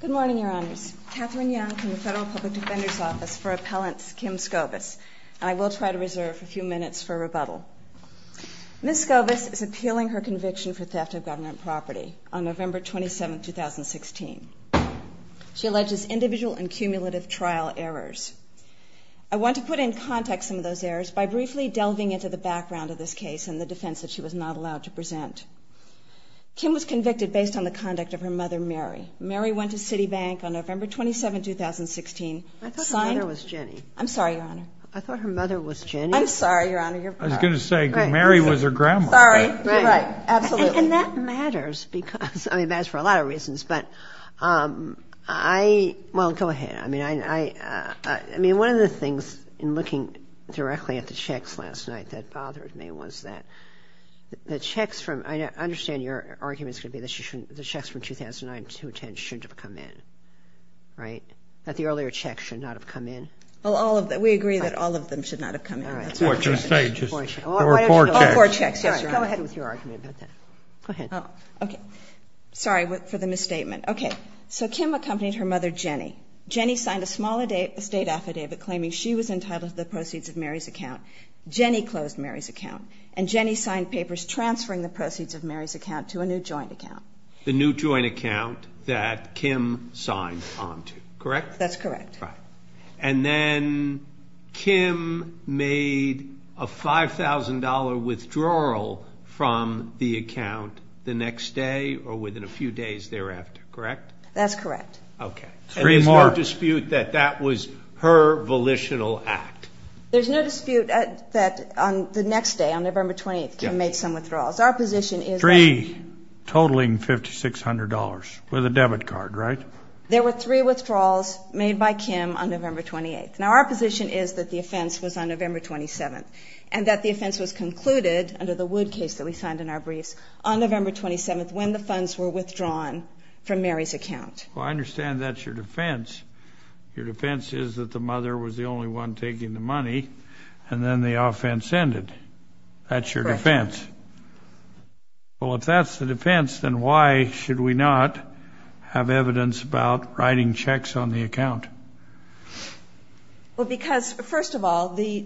Good morning, Your Honors. Catherine Young from the Federal Public Defender's Office for Appellants, Kim Scovis. And I will try to reserve a few minutes for rebuttal. Ms. Scovis is appealing her conviction for theft of government property on November 27, 2016. She alleges individual and cumulative trial errors. I want to put in context some of those errors by briefly delving into the background of this case and the defense that she was not allowed to present. Kim was convicted based on the conduct of her mother, Mary. Mary went to Citibank on November 27, 2016. I thought her mother was Jenny. I'm sorry, Your Honor. I thought her mother was Jenny. I'm sorry, Your Honor. I was going to say Mary was her grandma. Sorry. Right. Absolutely. And that matters because, I mean, it matters for a lot of reasons. But I, well, go ahead. I mean, one of the things in looking directly at the checks last night that bothered me was that the checks from, I understand your argument is going to be that the checks from 2009 to 2010 shouldn't have come in, right? That the earlier checks should not have come in. Well, all of them. We agree that all of them should not have come in. All right. Four checks. All four checks. Yes, Your Honor. Go ahead. Sorry for the misstatement. Okay. So Kim accompanied her mother, Jenny. Jenny signed a small estate affidavit claiming she was entitled to the proceeds of Mary's account. Jenny closed Mary's account. And Jenny signed papers transferring the proceeds of Mary's account to a new joint account. The new joint account that Kim signed onto, correct? That's correct. Right. And then Kim made a $5,000 withdrawal from the account the next day or within a few days thereafter, correct? That's correct. Okay. And there's no dispute that that was her volitional act? There's no dispute that the next day, on November 28th, Kim made some withdrawals. Our position is that the ---- Three totaling $5,600 with a debit card, right? There were three withdrawals made by Kim on November 28th. Now, our position is that the offense was on November 27th and that the offense was concluded under the Wood case that we signed in our briefs on November 27th when the funds were withdrawn from Mary's account. Well, I understand that's your defense. Your defense is that the mother was the only one taking the money and then the offense ended. That's your defense. Correct. Well, if that's the defense, then why should we not have evidence about writing checks on the account? Well, because, first of all, the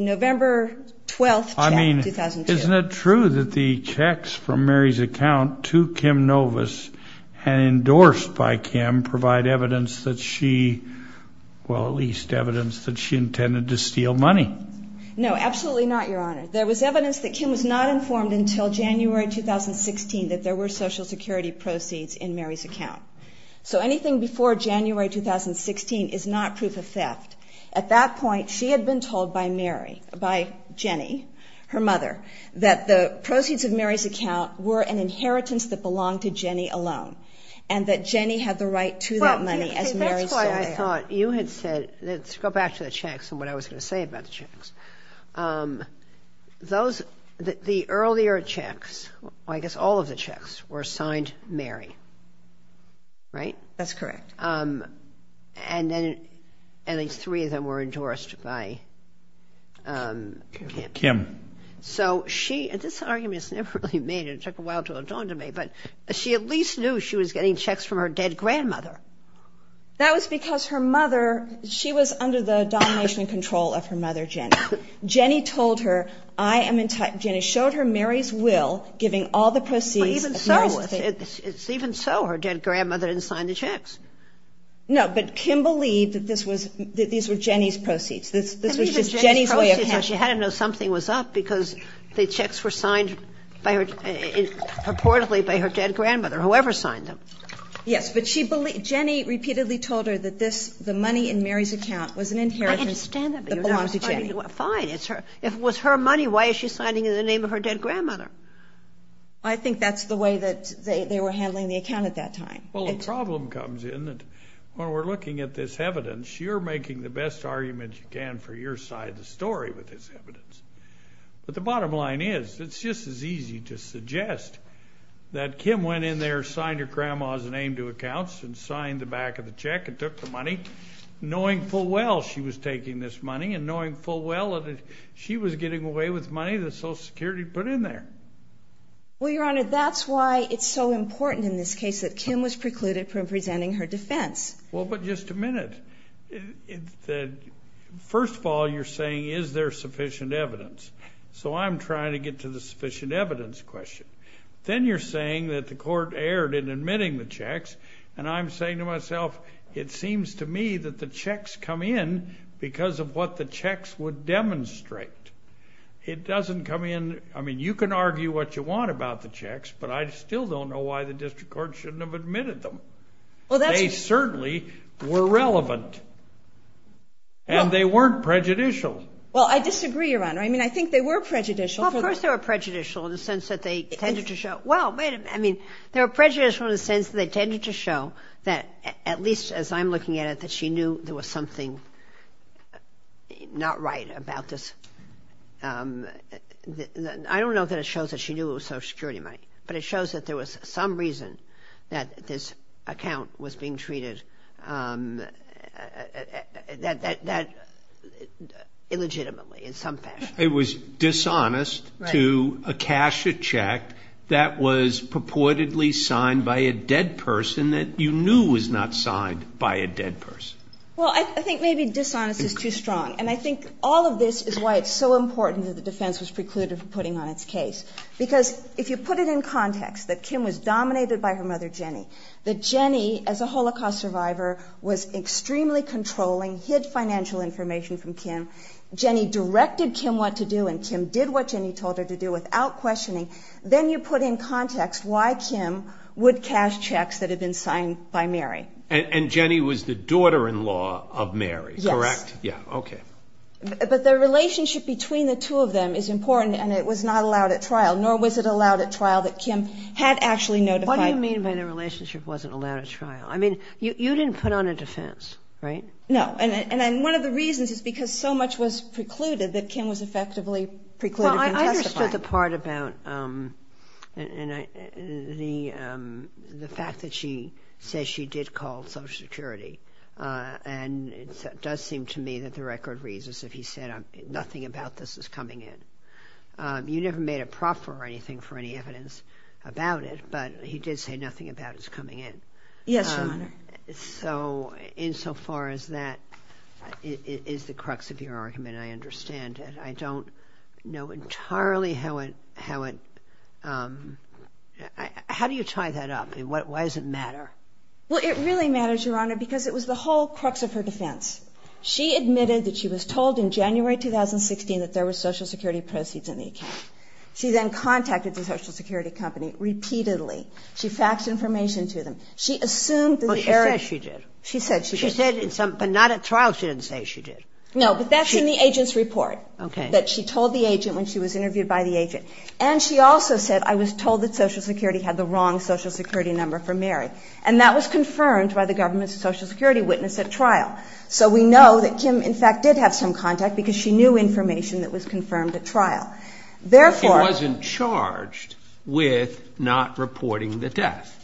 November 12th check, 2002. I mean, isn't it true that the checks from Mary's account to Kim Novis and endorsed by Kim provide evidence that she ---- well, at least evidence that she intended to steal money? No, absolutely not, Your Honor. There was evidence that Kim was not informed until January 2016 that there were Social Security proceeds in Mary's account. So anything before January 2016 is not proof of theft. At that point, she had been told by Mary, by Jenny, her mother, that the proceeds of Mary's account were an inheritance that belonged to Jenny alone and that Jenny had the right to that money as Mary sold it. Well, that's why I thought you had said, let's go back to the checks and what I was going to say about the checks. Those, the earlier checks, I guess all of the checks were signed Mary, right? That's correct. And then at least three of them were endorsed by Kim. Kim. So she ---- and this argument was never really made. It took a while to adorn to me. But she at least knew she was getting checks from her dead grandmother. That was because her mother, she was under the domination and control of her mother, Jenny. Jenny told her, I am in ---- Jenny showed her Mary's will giving all the proceeds of Mary's thing. Even so, her dead grandmother didn't sign the checks. No, but Kim believed that this was ---- that these were Jenny's proceeds. This was just Jenny's way of handling it. She had to know something was up because the checks were signed by her, purportedly by her dead grandmother, whoever signed them. Yes, but she believed ---- Jenny repeatedly told her that this, the money in Mary's account was an inheritance that belonged to Jenny. Fine. It was her money. Why is she signing it in the name of her dead grandmother? I think that's the way that they were handling the account at that time. Well, the problem comes in that when we're looking at this evidence, you're making the best argument you can for your side of the story with this evidence. But the bottom line is it's just as easy to suggest that Kim went in there, signed her grandma's name to accounts and signed the back of the check and took the money, knowing full well she was taking this money and knowing full well that she was getting away with money that Social Security put in there. Well, Your Honor, that's why it's so important in this case that Kim was precluded from presenting her defense. Well, but just a minute. First of all, you're saying is there sufficient evidence? So I'm trying to get to the sufficient evidence question. Then you're saying that the court erred in admitting the checks, and I'm saying to myself it seems to me that the checks come in because of what the checks would demonstrate. It doesn't come in ---- I mean, you can argue what you want about the checks, but I still don't know why the district court shouldn't have admitted them. They certainly were relevant, and they weren't prejudicial. Well, I disagree, Your Honor. I mean, I think they were prejudicial. Well, of course they were prejudicial in the sense that they tended to show ---- Well, wait a minute. I mean, they were prejudicial in the sense that they tended to show that at least as I'm looking at it that she knew there was something not right about this. I don't know that it shows that she knew it was Social Security money, but it shows that there was some reason that this account was being treated illegitimately in some fashion. It was dishonest to cash a check that was purportedly signed by a dead person that you knew was not signed by a dead person. Well, I think maybe dishonest is too strong, and I think all of this is why it's so important that the defense was precluded from putting on its case. Because if you put it in context that Kim was dominated by her mother, Jenny, that Jenny, as a Holocaust survivor, was extremely controlling, hid financial information from Kim, Jenny directed Kim what to do, and Kim did what Jenny told her to do without questioning, then you put in context why Kim would cash checks that had been signed by Mary. And Jenny was the daughter-in-law of Mary, correct? Yes. Yeah, okay. But the relationship between the two of them is important, and it was not allowed at trial, nor was it allowed at trial that Kim had actually notified her. What do you mean by the relationship wasn't allowed at trial? I mean, you didn't put on a defense, right? No. And one of the reasons is because so much was precluded that Kim was effectively precluded from testifying. Well, I understood the part about the fact that she says she did call Social Security, and it does seem to me that the record reads as if he said, nothing about this is coming in. You never made a proffer or anything for any evidence about it, but he did say nothing about it is coming in. Yes, Your Honor. So insofar as that is the crux of your argument, I understand it. I don't know entirely how it – how do you tie that up? Why does it matter? Well, it really matters, Your Honor, because it was the whole crux of her defense. She admitted that she was told in January 2016 that there were Social Security proceeds in the account. She then contacted the Social Security company repeatedly. She faxed information to them. She assumed that the area – Well, she said she did. She said she did. She said in some – but not at trial she didn't say she did. No, but that's in the agent's report. Okay. That she told the agent when she was interviewed by the agent. And she also said, I was told that Social Security had the wrong Social Security number for Mary. And that was confirmed by the government's Social Security witness at trial. So we know that Kim, in fact, did have some contact because she knew information that was confirmed at trial. Therefore – But she wasn't charged with not reporting the death.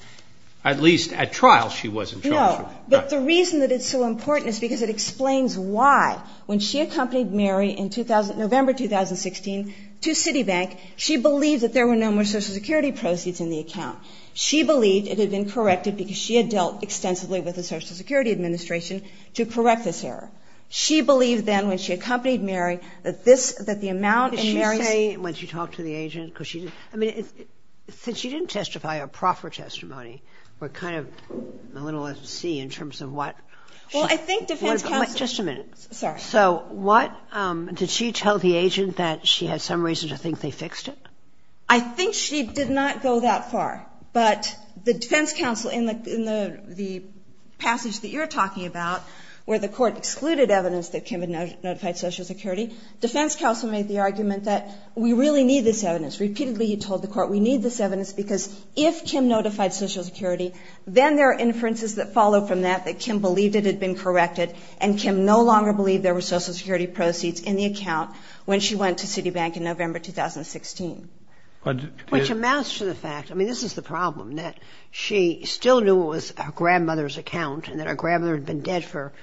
At least at trial she wasn't charged with it. No, but the reason that it's so important is because it explains why when she accompanied Mary in November 2016 to Citibank, she believed that there were no more Social Security proceeds in the account. She believed it had been corrected because she had dealt extensively with the Social Security Administration to correct this error. She believed then when she accompanied Mary that this – that the amount in Mary's – Did she say when she talked to the agent because she – I mean, since she didn't testify a proper testimony, we're kind of a little at sea in terms of what – Well, I think defense counsel – Just a minute. Sorry. So what – did she tell the agent that she had some reason to think they fixed it? I think she did not go that far. But the defense counsel in the passage that you're talking about where the court excluded evidence that Kim had notified Social Security, defense counsel made the argument that we really need this evidence. Repeatedly he told the court we need this evidence because if Kim notified Social Security, then there are inferences that follow from that, that Kim believed it had been corrected and Kim no longer believed there were Social Security proceeds in the account when she went to Citibank in November 2016. Which amounts to the fact – I mean, this is the problem, that she still knew it was her grandmother's account and that her grandmother had been dead for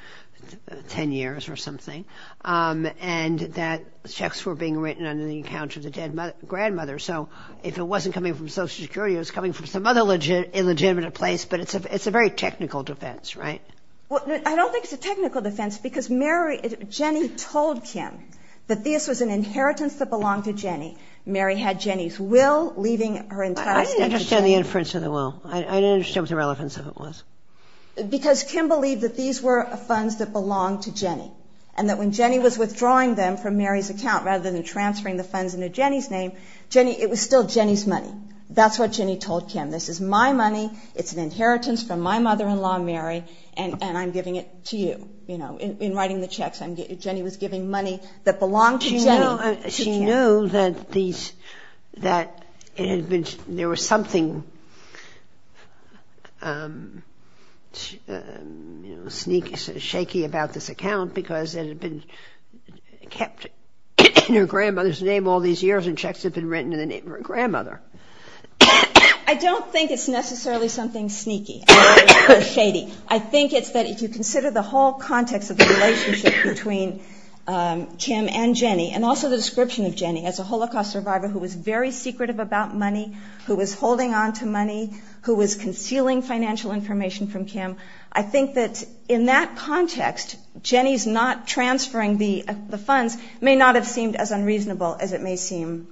10 years or something and that checks were being written under the account of the dead grandmother. So if it wasn't coming from Social Security, it was coming from some other illegitimate place, but it's a very technical defense, right? Well, I don't think it's a technical defense because Mary – Jenny told Kim that this was an inheritance that belonged to Jenny. Mary had Jenny's will leaving her entire – I didn't understand the inference of the will. I didn't understand what the relevance of it was. Because Kim believed that these were funds that belonged to Jenny and that when Jenny was withdrawing them from Mary's account rather than transferring the funds into Jenny's name, it was still Jenny's money. That's what Jenny told Kim. This is my money. It's an inheritance from my mother-in-law, Mary, and I'm giving it to you. You know, in writing the checks, Jenny was giving money that belonged to Jenny to Kim. Well, she knew that it had been – there was something sneaky, shaky about this account because it had been kept in her grandmother's name all these years and checks had been written in the name of her grandmother. I don't think it's necessarily something sneaky or shady. I think it's that if you consider the whole context of the relationship between Kim and Jenny and also the description of Jenny as a Holocaust survivor who was very secretive about money, who was holding on to money, who was concealing financial information from Kim, I think that in that context Jenny's not transferring the funds may not have seemed as unreasonable as it may seem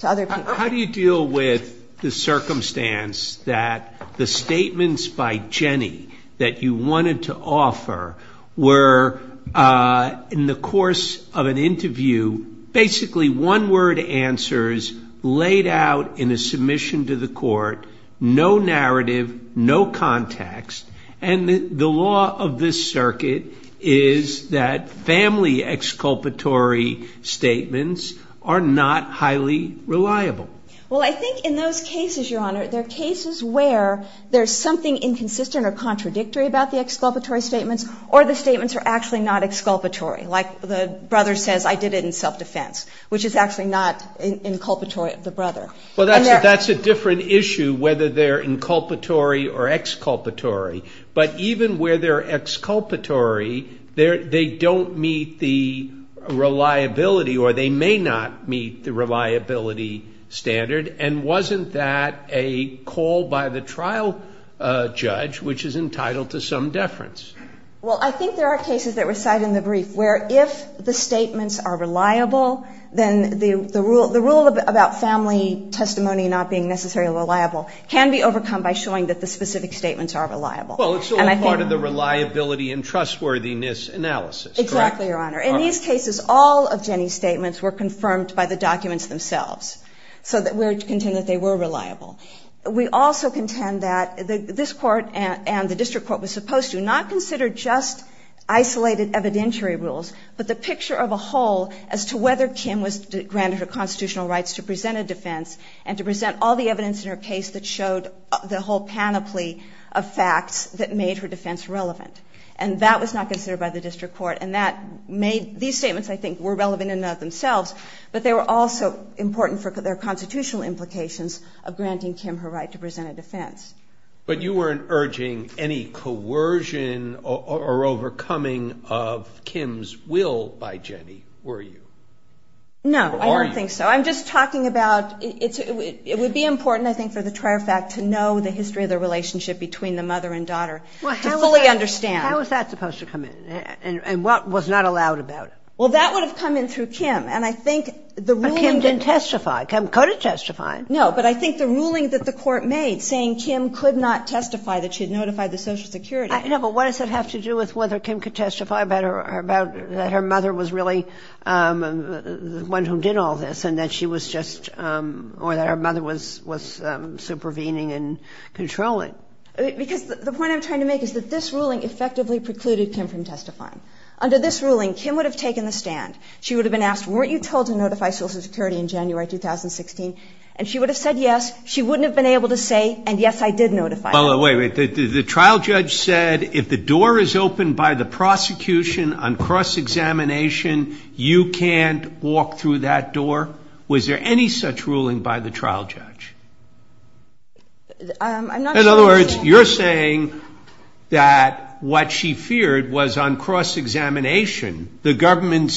to other people. How do you deal with the circumstance that the statements by Jenny that you wanted to offer were, in the course of an interview, basically one-word answers laid out in a submission to the court, no narrative, no context, and the law of this circuit is that family exculpatory statements are not highly reliable? Well, I think in those cases, Your Honor, there are cases where there's something inconsistent or contradictory about the exculpatory statements or the statements are actually not exculpatory. Like the brother says, I did it in self-defense, which is actually not inculpatory of the brother. Well, that's a different issue whether they're inculpatory or exculpatory. But even where they're exculpatory, they don't meet the reliability or they may not meet the reliability standard. And wasn't that a call by the trial judge, which is entitled to some deference? Well, I think there are cases that recite in the brief where if the statements are reliable, then the rule about family testimony not being necessarily reliable can be overcome by showing that the specific statements are reliable. Well, it's all part of the reliability and trustworthiness analysis. Exactly, Your Honor. In these cases, all of Jenny's statements were confirmed by the documents themselves. So we contend that they were reliable. We also contend that this Court and the district court was supposed to not consider just isolated evidentiary rules, but the picture of a whole as to whether Kim was granted her constitutional rights to present a defense and to present all the evidence in her case that showed the whole panoply of facts that made her defense relevant. And that was not considered by the district court. And these statements, I think, were relevant in and of themselves, but they were also important for their constitutional implications of granting Kim her right to present a defense. But you weren't urging any coercion or overcoming of Kim's will by Jenny, were you? No, I don't think so. I'm just talking about it would be important, I think, for the trier fact to know the history of the relationship between the mother and daughter, to fully understand. How was that supposed to come in? And what was not allowed about it? Well, that would have come in through Kim. But Kim didn't testify. Kim could have testified. No, but I think the ruling that the Court made saying Kim could not testify, that she had notified the Social Security. No, but what does that have to do with whether Kim could testify about that her mother was really the one who did all this and that she was just or that her mother was supervening and controlling? Because the point I'm trying to make is that this ruling effectively precluded Kim from testifying. Under this ruling, Kim would have taken the stand. She would have been asked, weren't you told to notify Social Security in January 2016? And she would have said yes. She wouldn't have been able to say, and yes, I did notify. Well, wait, the trial judge said if the door is open by the prosecution on cross-examination, you can't walk through that door. Was there any such ruling by the trial judge? I'm not sure. In other words, you're saying that what she feared was on cross-examination, the government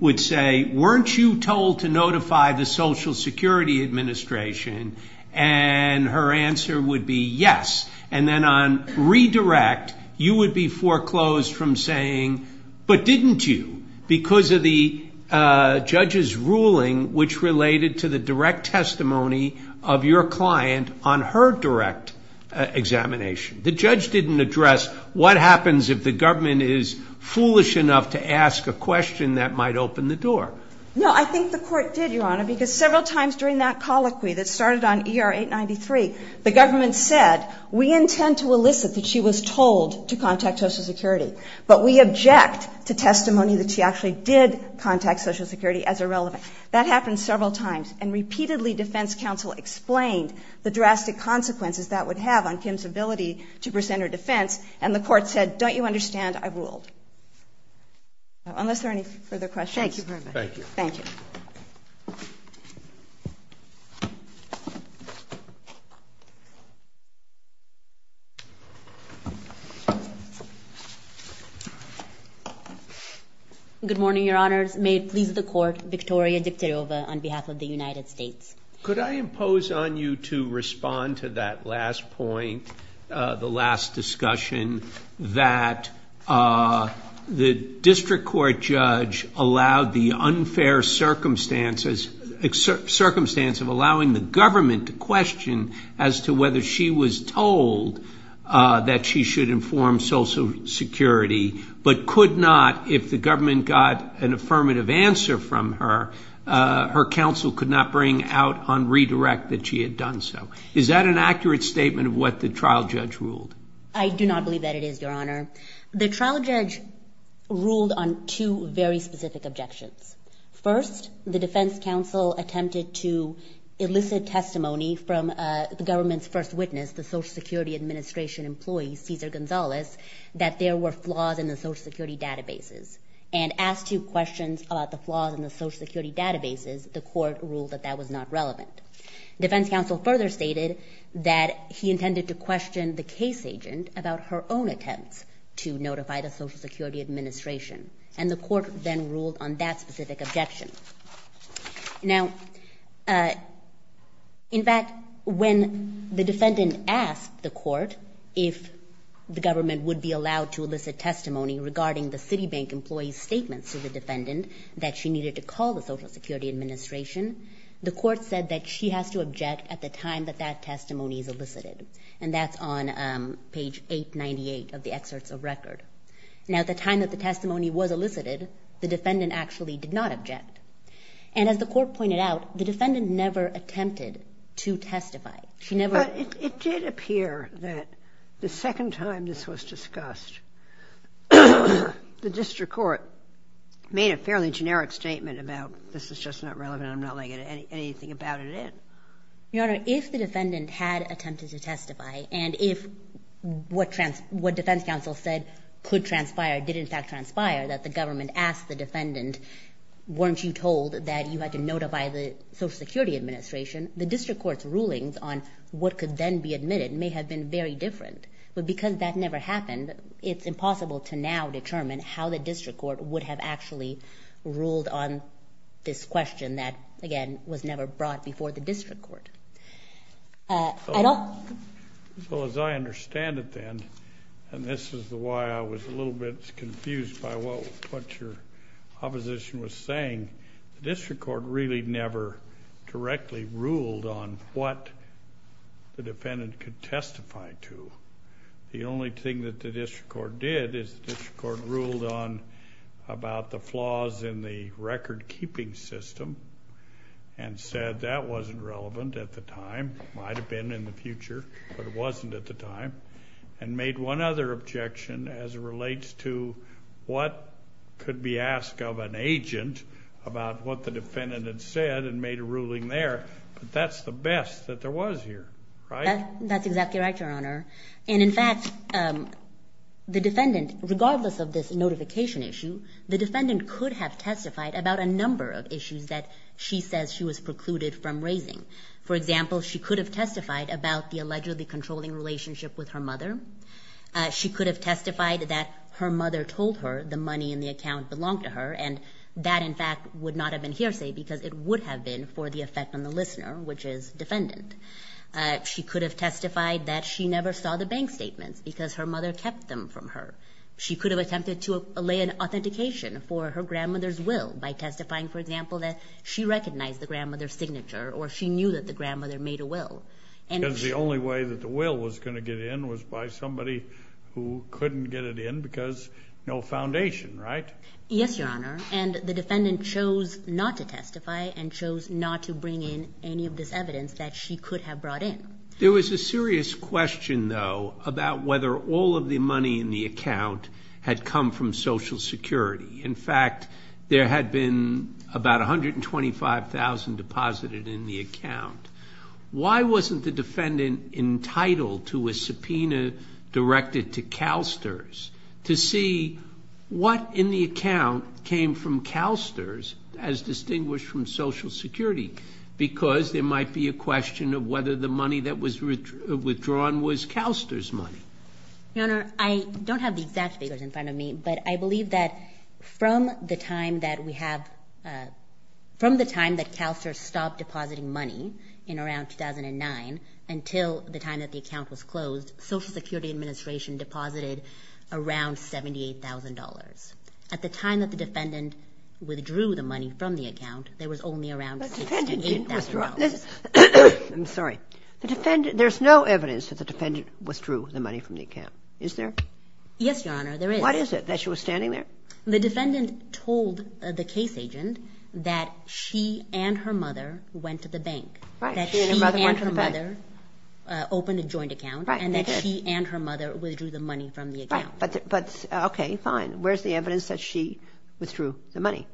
would say, weren't you told to notify the Social Security Administration? And her answer would be yes. And then on redirect, you would be foreclosed from saying, but didn't you? Because of the judge's ruling, which related to the direct testimony of your client on her direct examination. The judge didn't address what happens if the government is foolish enough to ask a question that might open the door. No, I think the court did, Your Honor, because several times during that colloquy that started on ER-893, the government said, we intend to elicit that she was told to contact Social Security, but we object to testimony that she actually did contact Social Security as irrelevant. That happened several times. And repeatedly, defense counsel explained the drastic consequences that would have on Kim's ability to present her defense. And the court said, don't you understand? I ruled. Unless there are any further questions. Thank you very much. Thank you. Good morning, Your Honors. May it please the court, Victoria Diktyarova on behalf of the United States. Could I impose on you to respond to that last point, the last discussion, that the district court judge allowed the unfair circumstances, circumstance of allowing the government to question as to whether she was told that she should inform Social Security, but could not if the government got an affirmative answer from her, her counsel could not bring out on redirect that she had done so. Is that an accurate statement of what the trial judge ruled? I do not believe that it is, Your Honor. The trial judge ruled on two very specific objections. First, the defense counsel attempted to elicit testimony from the government's first witness, the Social Security Administration employee, Cesar Gonzalez, that there were flaws in the Social Security databases, and asked two questions about the flaws in the Social Security databases. The court ruled that that was not relevant. Defense counsel further stated that he intended to question the case agent about her own attempts to notify the Social Security Administration. And the court then ruled on that specific objection. Now, in fact, when the defendant asked the court if the government would be allowed to elicit testimony regarding the Citibank employee's statements to the defendant that she needed to call the Social Security Administration, the court said that she has to object at the time that that testimony is elicited, and that's on page 898 of the excerpts of record. Now, at the time that the testimony was elicited, the defendant actually did not object. And as the court pointed out, the defendant never attempted to testify. She never – But it did appear that the second time this was discussed, the district court made a fairly generic statement about this is just not relevant. I'm not laying anything about it in. Your Honor, if the defendant had attempted to testify, and if what defense counsel said could transpire did, in fact, transpire, that the government asked the defendant, weren't you told that you had to notify the Social Security Administration, the district court's rulings on what could then be admitted may have been very different. But because that never happened, it's impossible to now determine how the district court would have actually ruled on this question that, again, was never brought before the district court. I don't – Well, as I understand it then, and this is why I was a little bit confused by what your opposition was saying, the district court really never directly ruled on what the defendant could testify to. The only thing that the district court did is the district court ruled on about the flaws in the record-keeping system and said that wasn't relevant at the time. It might have been in the future, but it wasn't at the time, and made one other objection as it relates to what could be asked of an agent about what the defendant had said and made a ruling there. But that's the best that there was here, right? That's exactly right, Your Honor. And, in fact, the defendant, regardless of this notification issue, the defendant could have testified about a number of issues that she says she was precluded from raising. For example, she could have testified about the allegedly controlling relationship with her mother. She could have testified that her mother told her the money in the account belonged to her, and that, in fact, would not have been hearsay because it would have been for the effect on the listener, which is defendant. She could have testified that she never saw the bank statements because her mother kept them from her. She could have attempted to allay an authentication for her grandmother's will by testifying, for example, that she recognized the grandmother's signature or she knew that the grandmother made a will. Because the only way that the will was going to get in was by somebody who couldn't get it in because no foundation, right? Yes, Your Honor, and the defendant chose not to testify and chose not to bring in any of this evidence that she could have brought in. There was a serious question, though, about whether all of the money in the account had come from Social Security. In fact, there had been about $125,000 deposited in the account. Why wasn't the defendant entitled to a subpoena directed to CalSTRS to see what in the account came from CalSTRS as distinguished from Social Security? Because there might be a question of whether the money that was withdrawn was CalSTRS money. Your Honor, I don't have the exact figures in front of me, but I believe that from the time that CalSTRS stopped depositing money in around 2009 until the time that the account was closed, Social Security Administration deposited around $78,000. At the time that the defendant withdrew the money from the account, there was only around $68,000. I'm sorry. There's no evidence that the defendant withdrew the money from the account, is there? Yes, Your Honor, there is. What is it, that she was standing there? The defendant told the case agent that she and her mother went to the bank. That she and her mother opened a joint account and that she and her mother withdrew the money from the account. Okay, fine. Where's the evidence that she withdrew the money?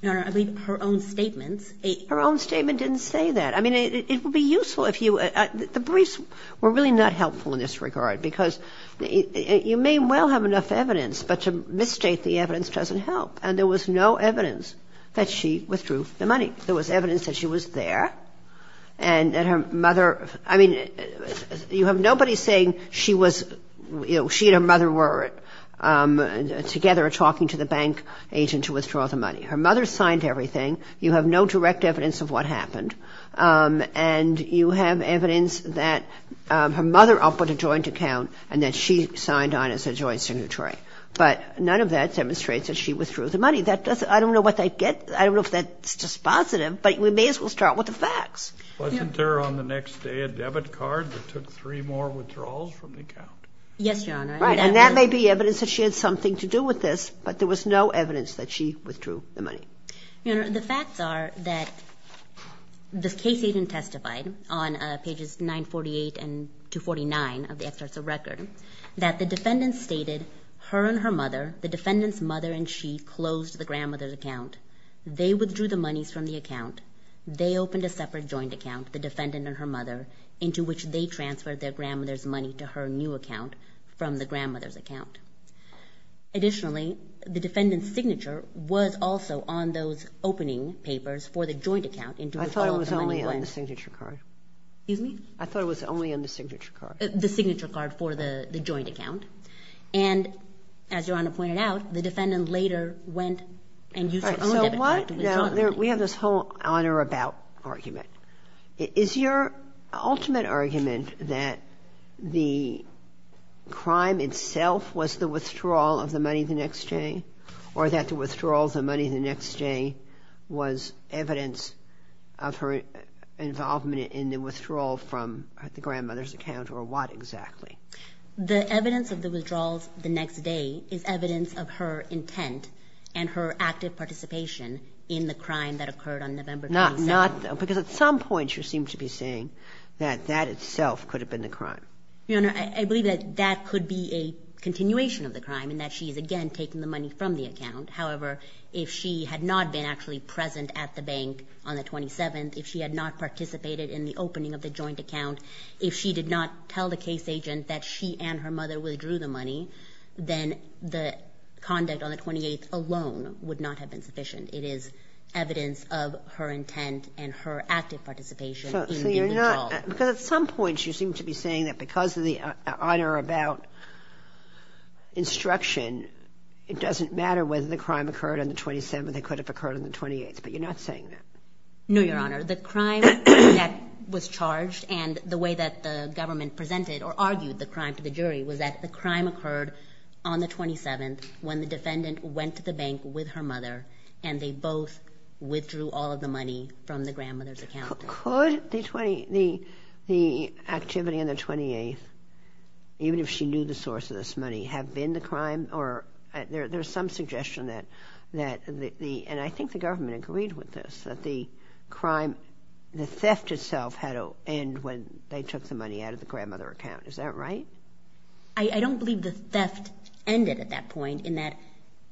Your Honor, I believe her own statement. Her own statement didn't say that. I mean, it would be useful if you – the briefs were really not helpful in this regard because you may well have enough evidence, but to misstate the evidence doesn't help. And there was no evidence that she withdrew the money. There was evidence that she was there and that her mother – I mean, you have nobody saying she was – she and her mother were together talking to the bank agent to withdraw the money. Her mother signed everything. You have no direct evidence of what happened. And you have evidence that her mother opened a joint account and that she signed on as a joint signatory. But none of that demonstrates that she withdrew the money. I don't know what they get. I don't know if that's just positive, but we may as well start with the facts. Wasn't there on the next day a debit card that took three more withdrawals from the account? Yes, Your Honor. And that may be evidence that she had something to do with this, but there was no evidence that she withdrew the money. Your Honor, the facts are that the case agent testified on pages 948 and 249 of the excerpts of record that the defendant stated her and her mother, the defendant's mother and she, closed the grandmother's account. They withdrew the monies from the account. They opened a separate joint account, the defendant and her mother, into which they transferred their grandmother's money to her new account from the grandmother's account. Additionally, the defendant's signature was also on those opening papers for the joint account. I thought it was only on the signature card. Excuse me? I thought it was only on the signature card. The signature card for the joint account. And as Your Honor pointed out, the defendant later went and used her debit card. Now, we have this whole on or about argument. Is your ultimate argument that the crime itself was the withdrawal of the money the next day or that the withdrawal of the money the next day was evidence of her involvement in the withdrawal from the grandmother's account or what exactly? The evidence of the withdrawals the next day is evidence of her intent and her active participation in the crime that occurred on November 27th. Because at some point you seem to be saying that that itself could have been the crime. Your Honor, I believe that that could be a continuation of the crime in that she is, again, taking the money from the account. However, if she had not been actually present at the bank on the 27th, if she had not participated in the opening of the joint account, if she did not tell the case agent that she and her mother withdrew the money, then the conduct on the 28th alone would not have been sufficient. It is evidence of her intent and her active participation in the withdrawal. So you're not – because at some point you seem to be saying that because of the on or about instruction, it doesn't matter whether the crime occurred on the 27th, it could have occurred on the 28th. But you're not saying that. No, Your Honor. The crime that was charged and the way that the government presented or argued the crime to the jury was that the crime occurred on the 27th when the defendant went to the bank with her mother and they both withdrew all of the money from the grandmother's account. Could the activity on the 28th, even if she knew the source of this money, have been the crime or there's some suggestion that the – and I think the government agreed with this, that the crime, the theft itself had to end when they took the money out of the grandmother's account. Is that right? I don't believe the theft ended at that point in that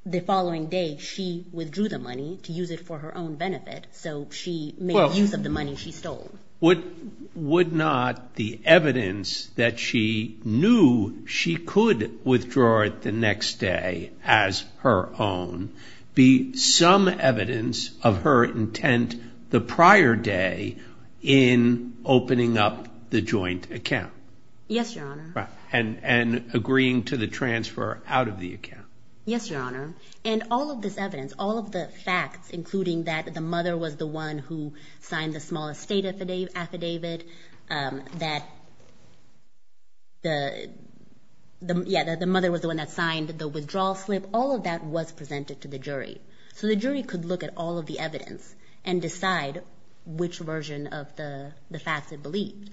the following day she withdrew the money to use it for her own benefit, so she made use of the money she stole. Would not the evidence that she knew she could withdraw it the next day as her own be some evidence of her intent the prior day in opening up the joint account? Yes, Your Honor. And agreeing to the transfer out of the account? Yes, Your Honor. And all of this evidence, all of the facts, including that the mother was the one who signed the small estate affidavit, that the mother was the one that signed the withdrawal slip, all of that was presented to the jury. So the jury could look at all of the evidence and decide which version of the facts it believed.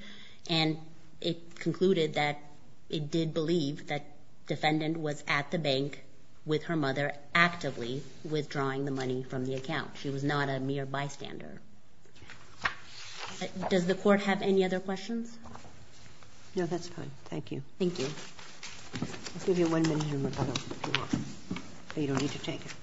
And it concluded that it did believe that the defendant was at the bank with her mother actively withdrawing the money from the account. She was not a mere bystander. Does the Court have any other questions? No, that's fine. Thank you. Thank you. I'll give you one minute, Your Honor, if you want. You don't need to take it.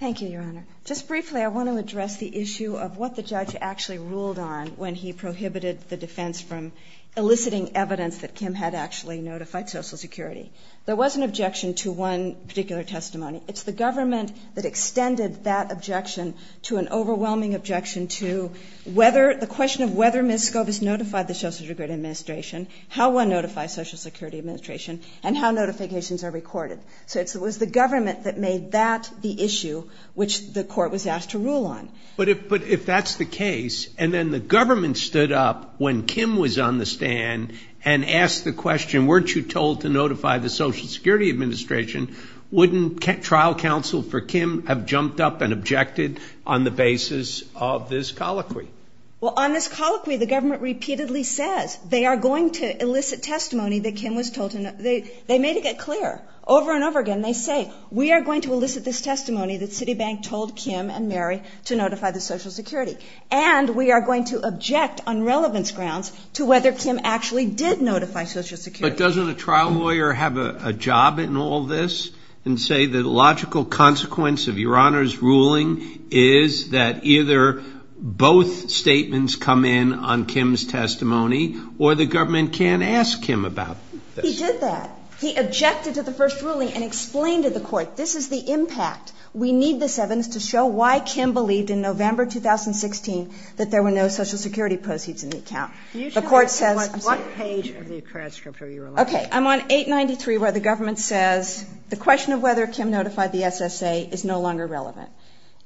Thank you, Your Honor. Just briefly, I want to address the issue of what the judge actually ruled on when he prohibited the defense from eliciting evidence that Kim had actually notified Social Security. There was an objection to one particular testimony. It's the government that extended that objection to an overwhelming objection to the question of whether Ms. Scobus notified the Social Security Administration, how one notifies Social Security Administration, and how notifications are recorded. So it was the government that made that the issue which the Court was asked to rule on. But if that's the case, and then the government stood up when Kim was on the stand and asked the question, weren't you told to notify the Social Security Administration, wouldn't trial counsel for Kim have jumped up and objected on the basis of this colloquy? Well, on this colloquy, the government repeatedly says they are going to elicit testimony that Kim was told to notify. They made it clear over and over again. They say, we are going to elicit this testimony that Citibank told Kim and Mary to notify the Social Security, and we are going to object on relevance grounds to whether Kim actually did notify Social Security. But doesn't a trial lawyer have a job in all this and say the logical consequence of Your Honor's ruling is that either both statements come in on Kim's testimony or the government can't ask Kim about this? He did that. He objected to the first ruling and explained to the Court, this is the impact. We need this evidence to show why Kim believed in November 2016 that there were no Social Security proceeds in the account. The Court says What page of the transcript are you on? Okay. I'm on 893 where the government says the question of whether Kim notified the SSA is no longer relevant.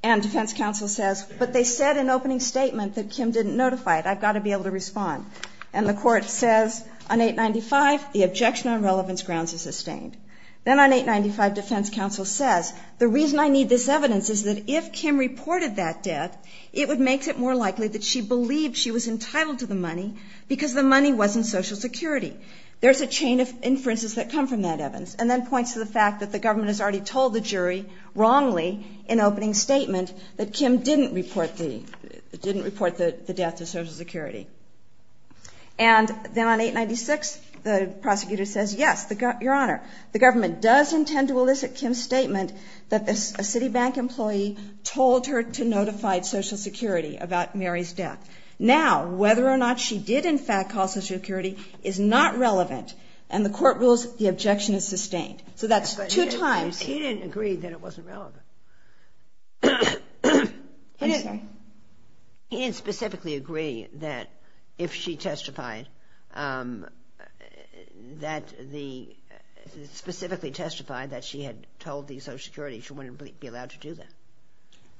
And defense counsel says, but they said in opening statement that Kim didn't notify it. I've got to be able to respond. And the Court says on 895, the objection on relevance grounds is sustained. Then on 895, defense counsel says, the reason I need this evidence is that if Kim reported that death, it makes it more likely that she believed she was entitled to the money because the money was in Social Security. There's a chain of inferences that come from that evidence. And then points to the fact that the government has already told the jury wrongly in opening statement that Kim didn't report the death to Social Security. And then on 896, the prosecutor says, yes, Your Honor, the government does intend to elicit Kim's statement that a Citibank employee told her to notify Social Security about Mary's death. Now, whether or not she did, in fact, call Social Security is not relevant. And the Court rules the objection is sustained. So that's two times. But he didn't agree that it wasn't relevant. I'm sorry. He didn't specifically agree that if she testified that the – specifically testified that she had told the Social Security, she wouldn't be allowed to do that.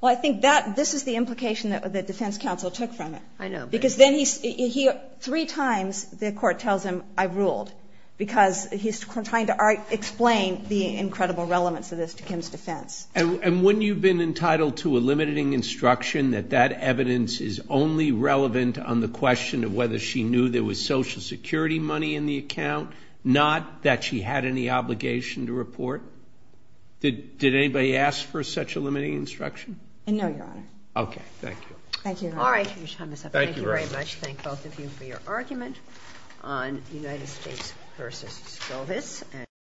Well, I think that – this is the implication that the defense counsel took from it. I know. Because then he – three times the Court tells him, I ruled, because he's trying to explain the incredible relevance of this to Kim's defense. And wouldn't you have been entitled to a limiting instruction that that evidence is only relevant on the question of whether she knew there was Social Security money in the account, not that she had any obligation to report? Did anybody ask for such a limiting instruction? No, Your Honor. Okay. Thank you. Thank you, Your Honor. All right. Thank you very much. Thank both of you for your argument on United States v. Skovitz.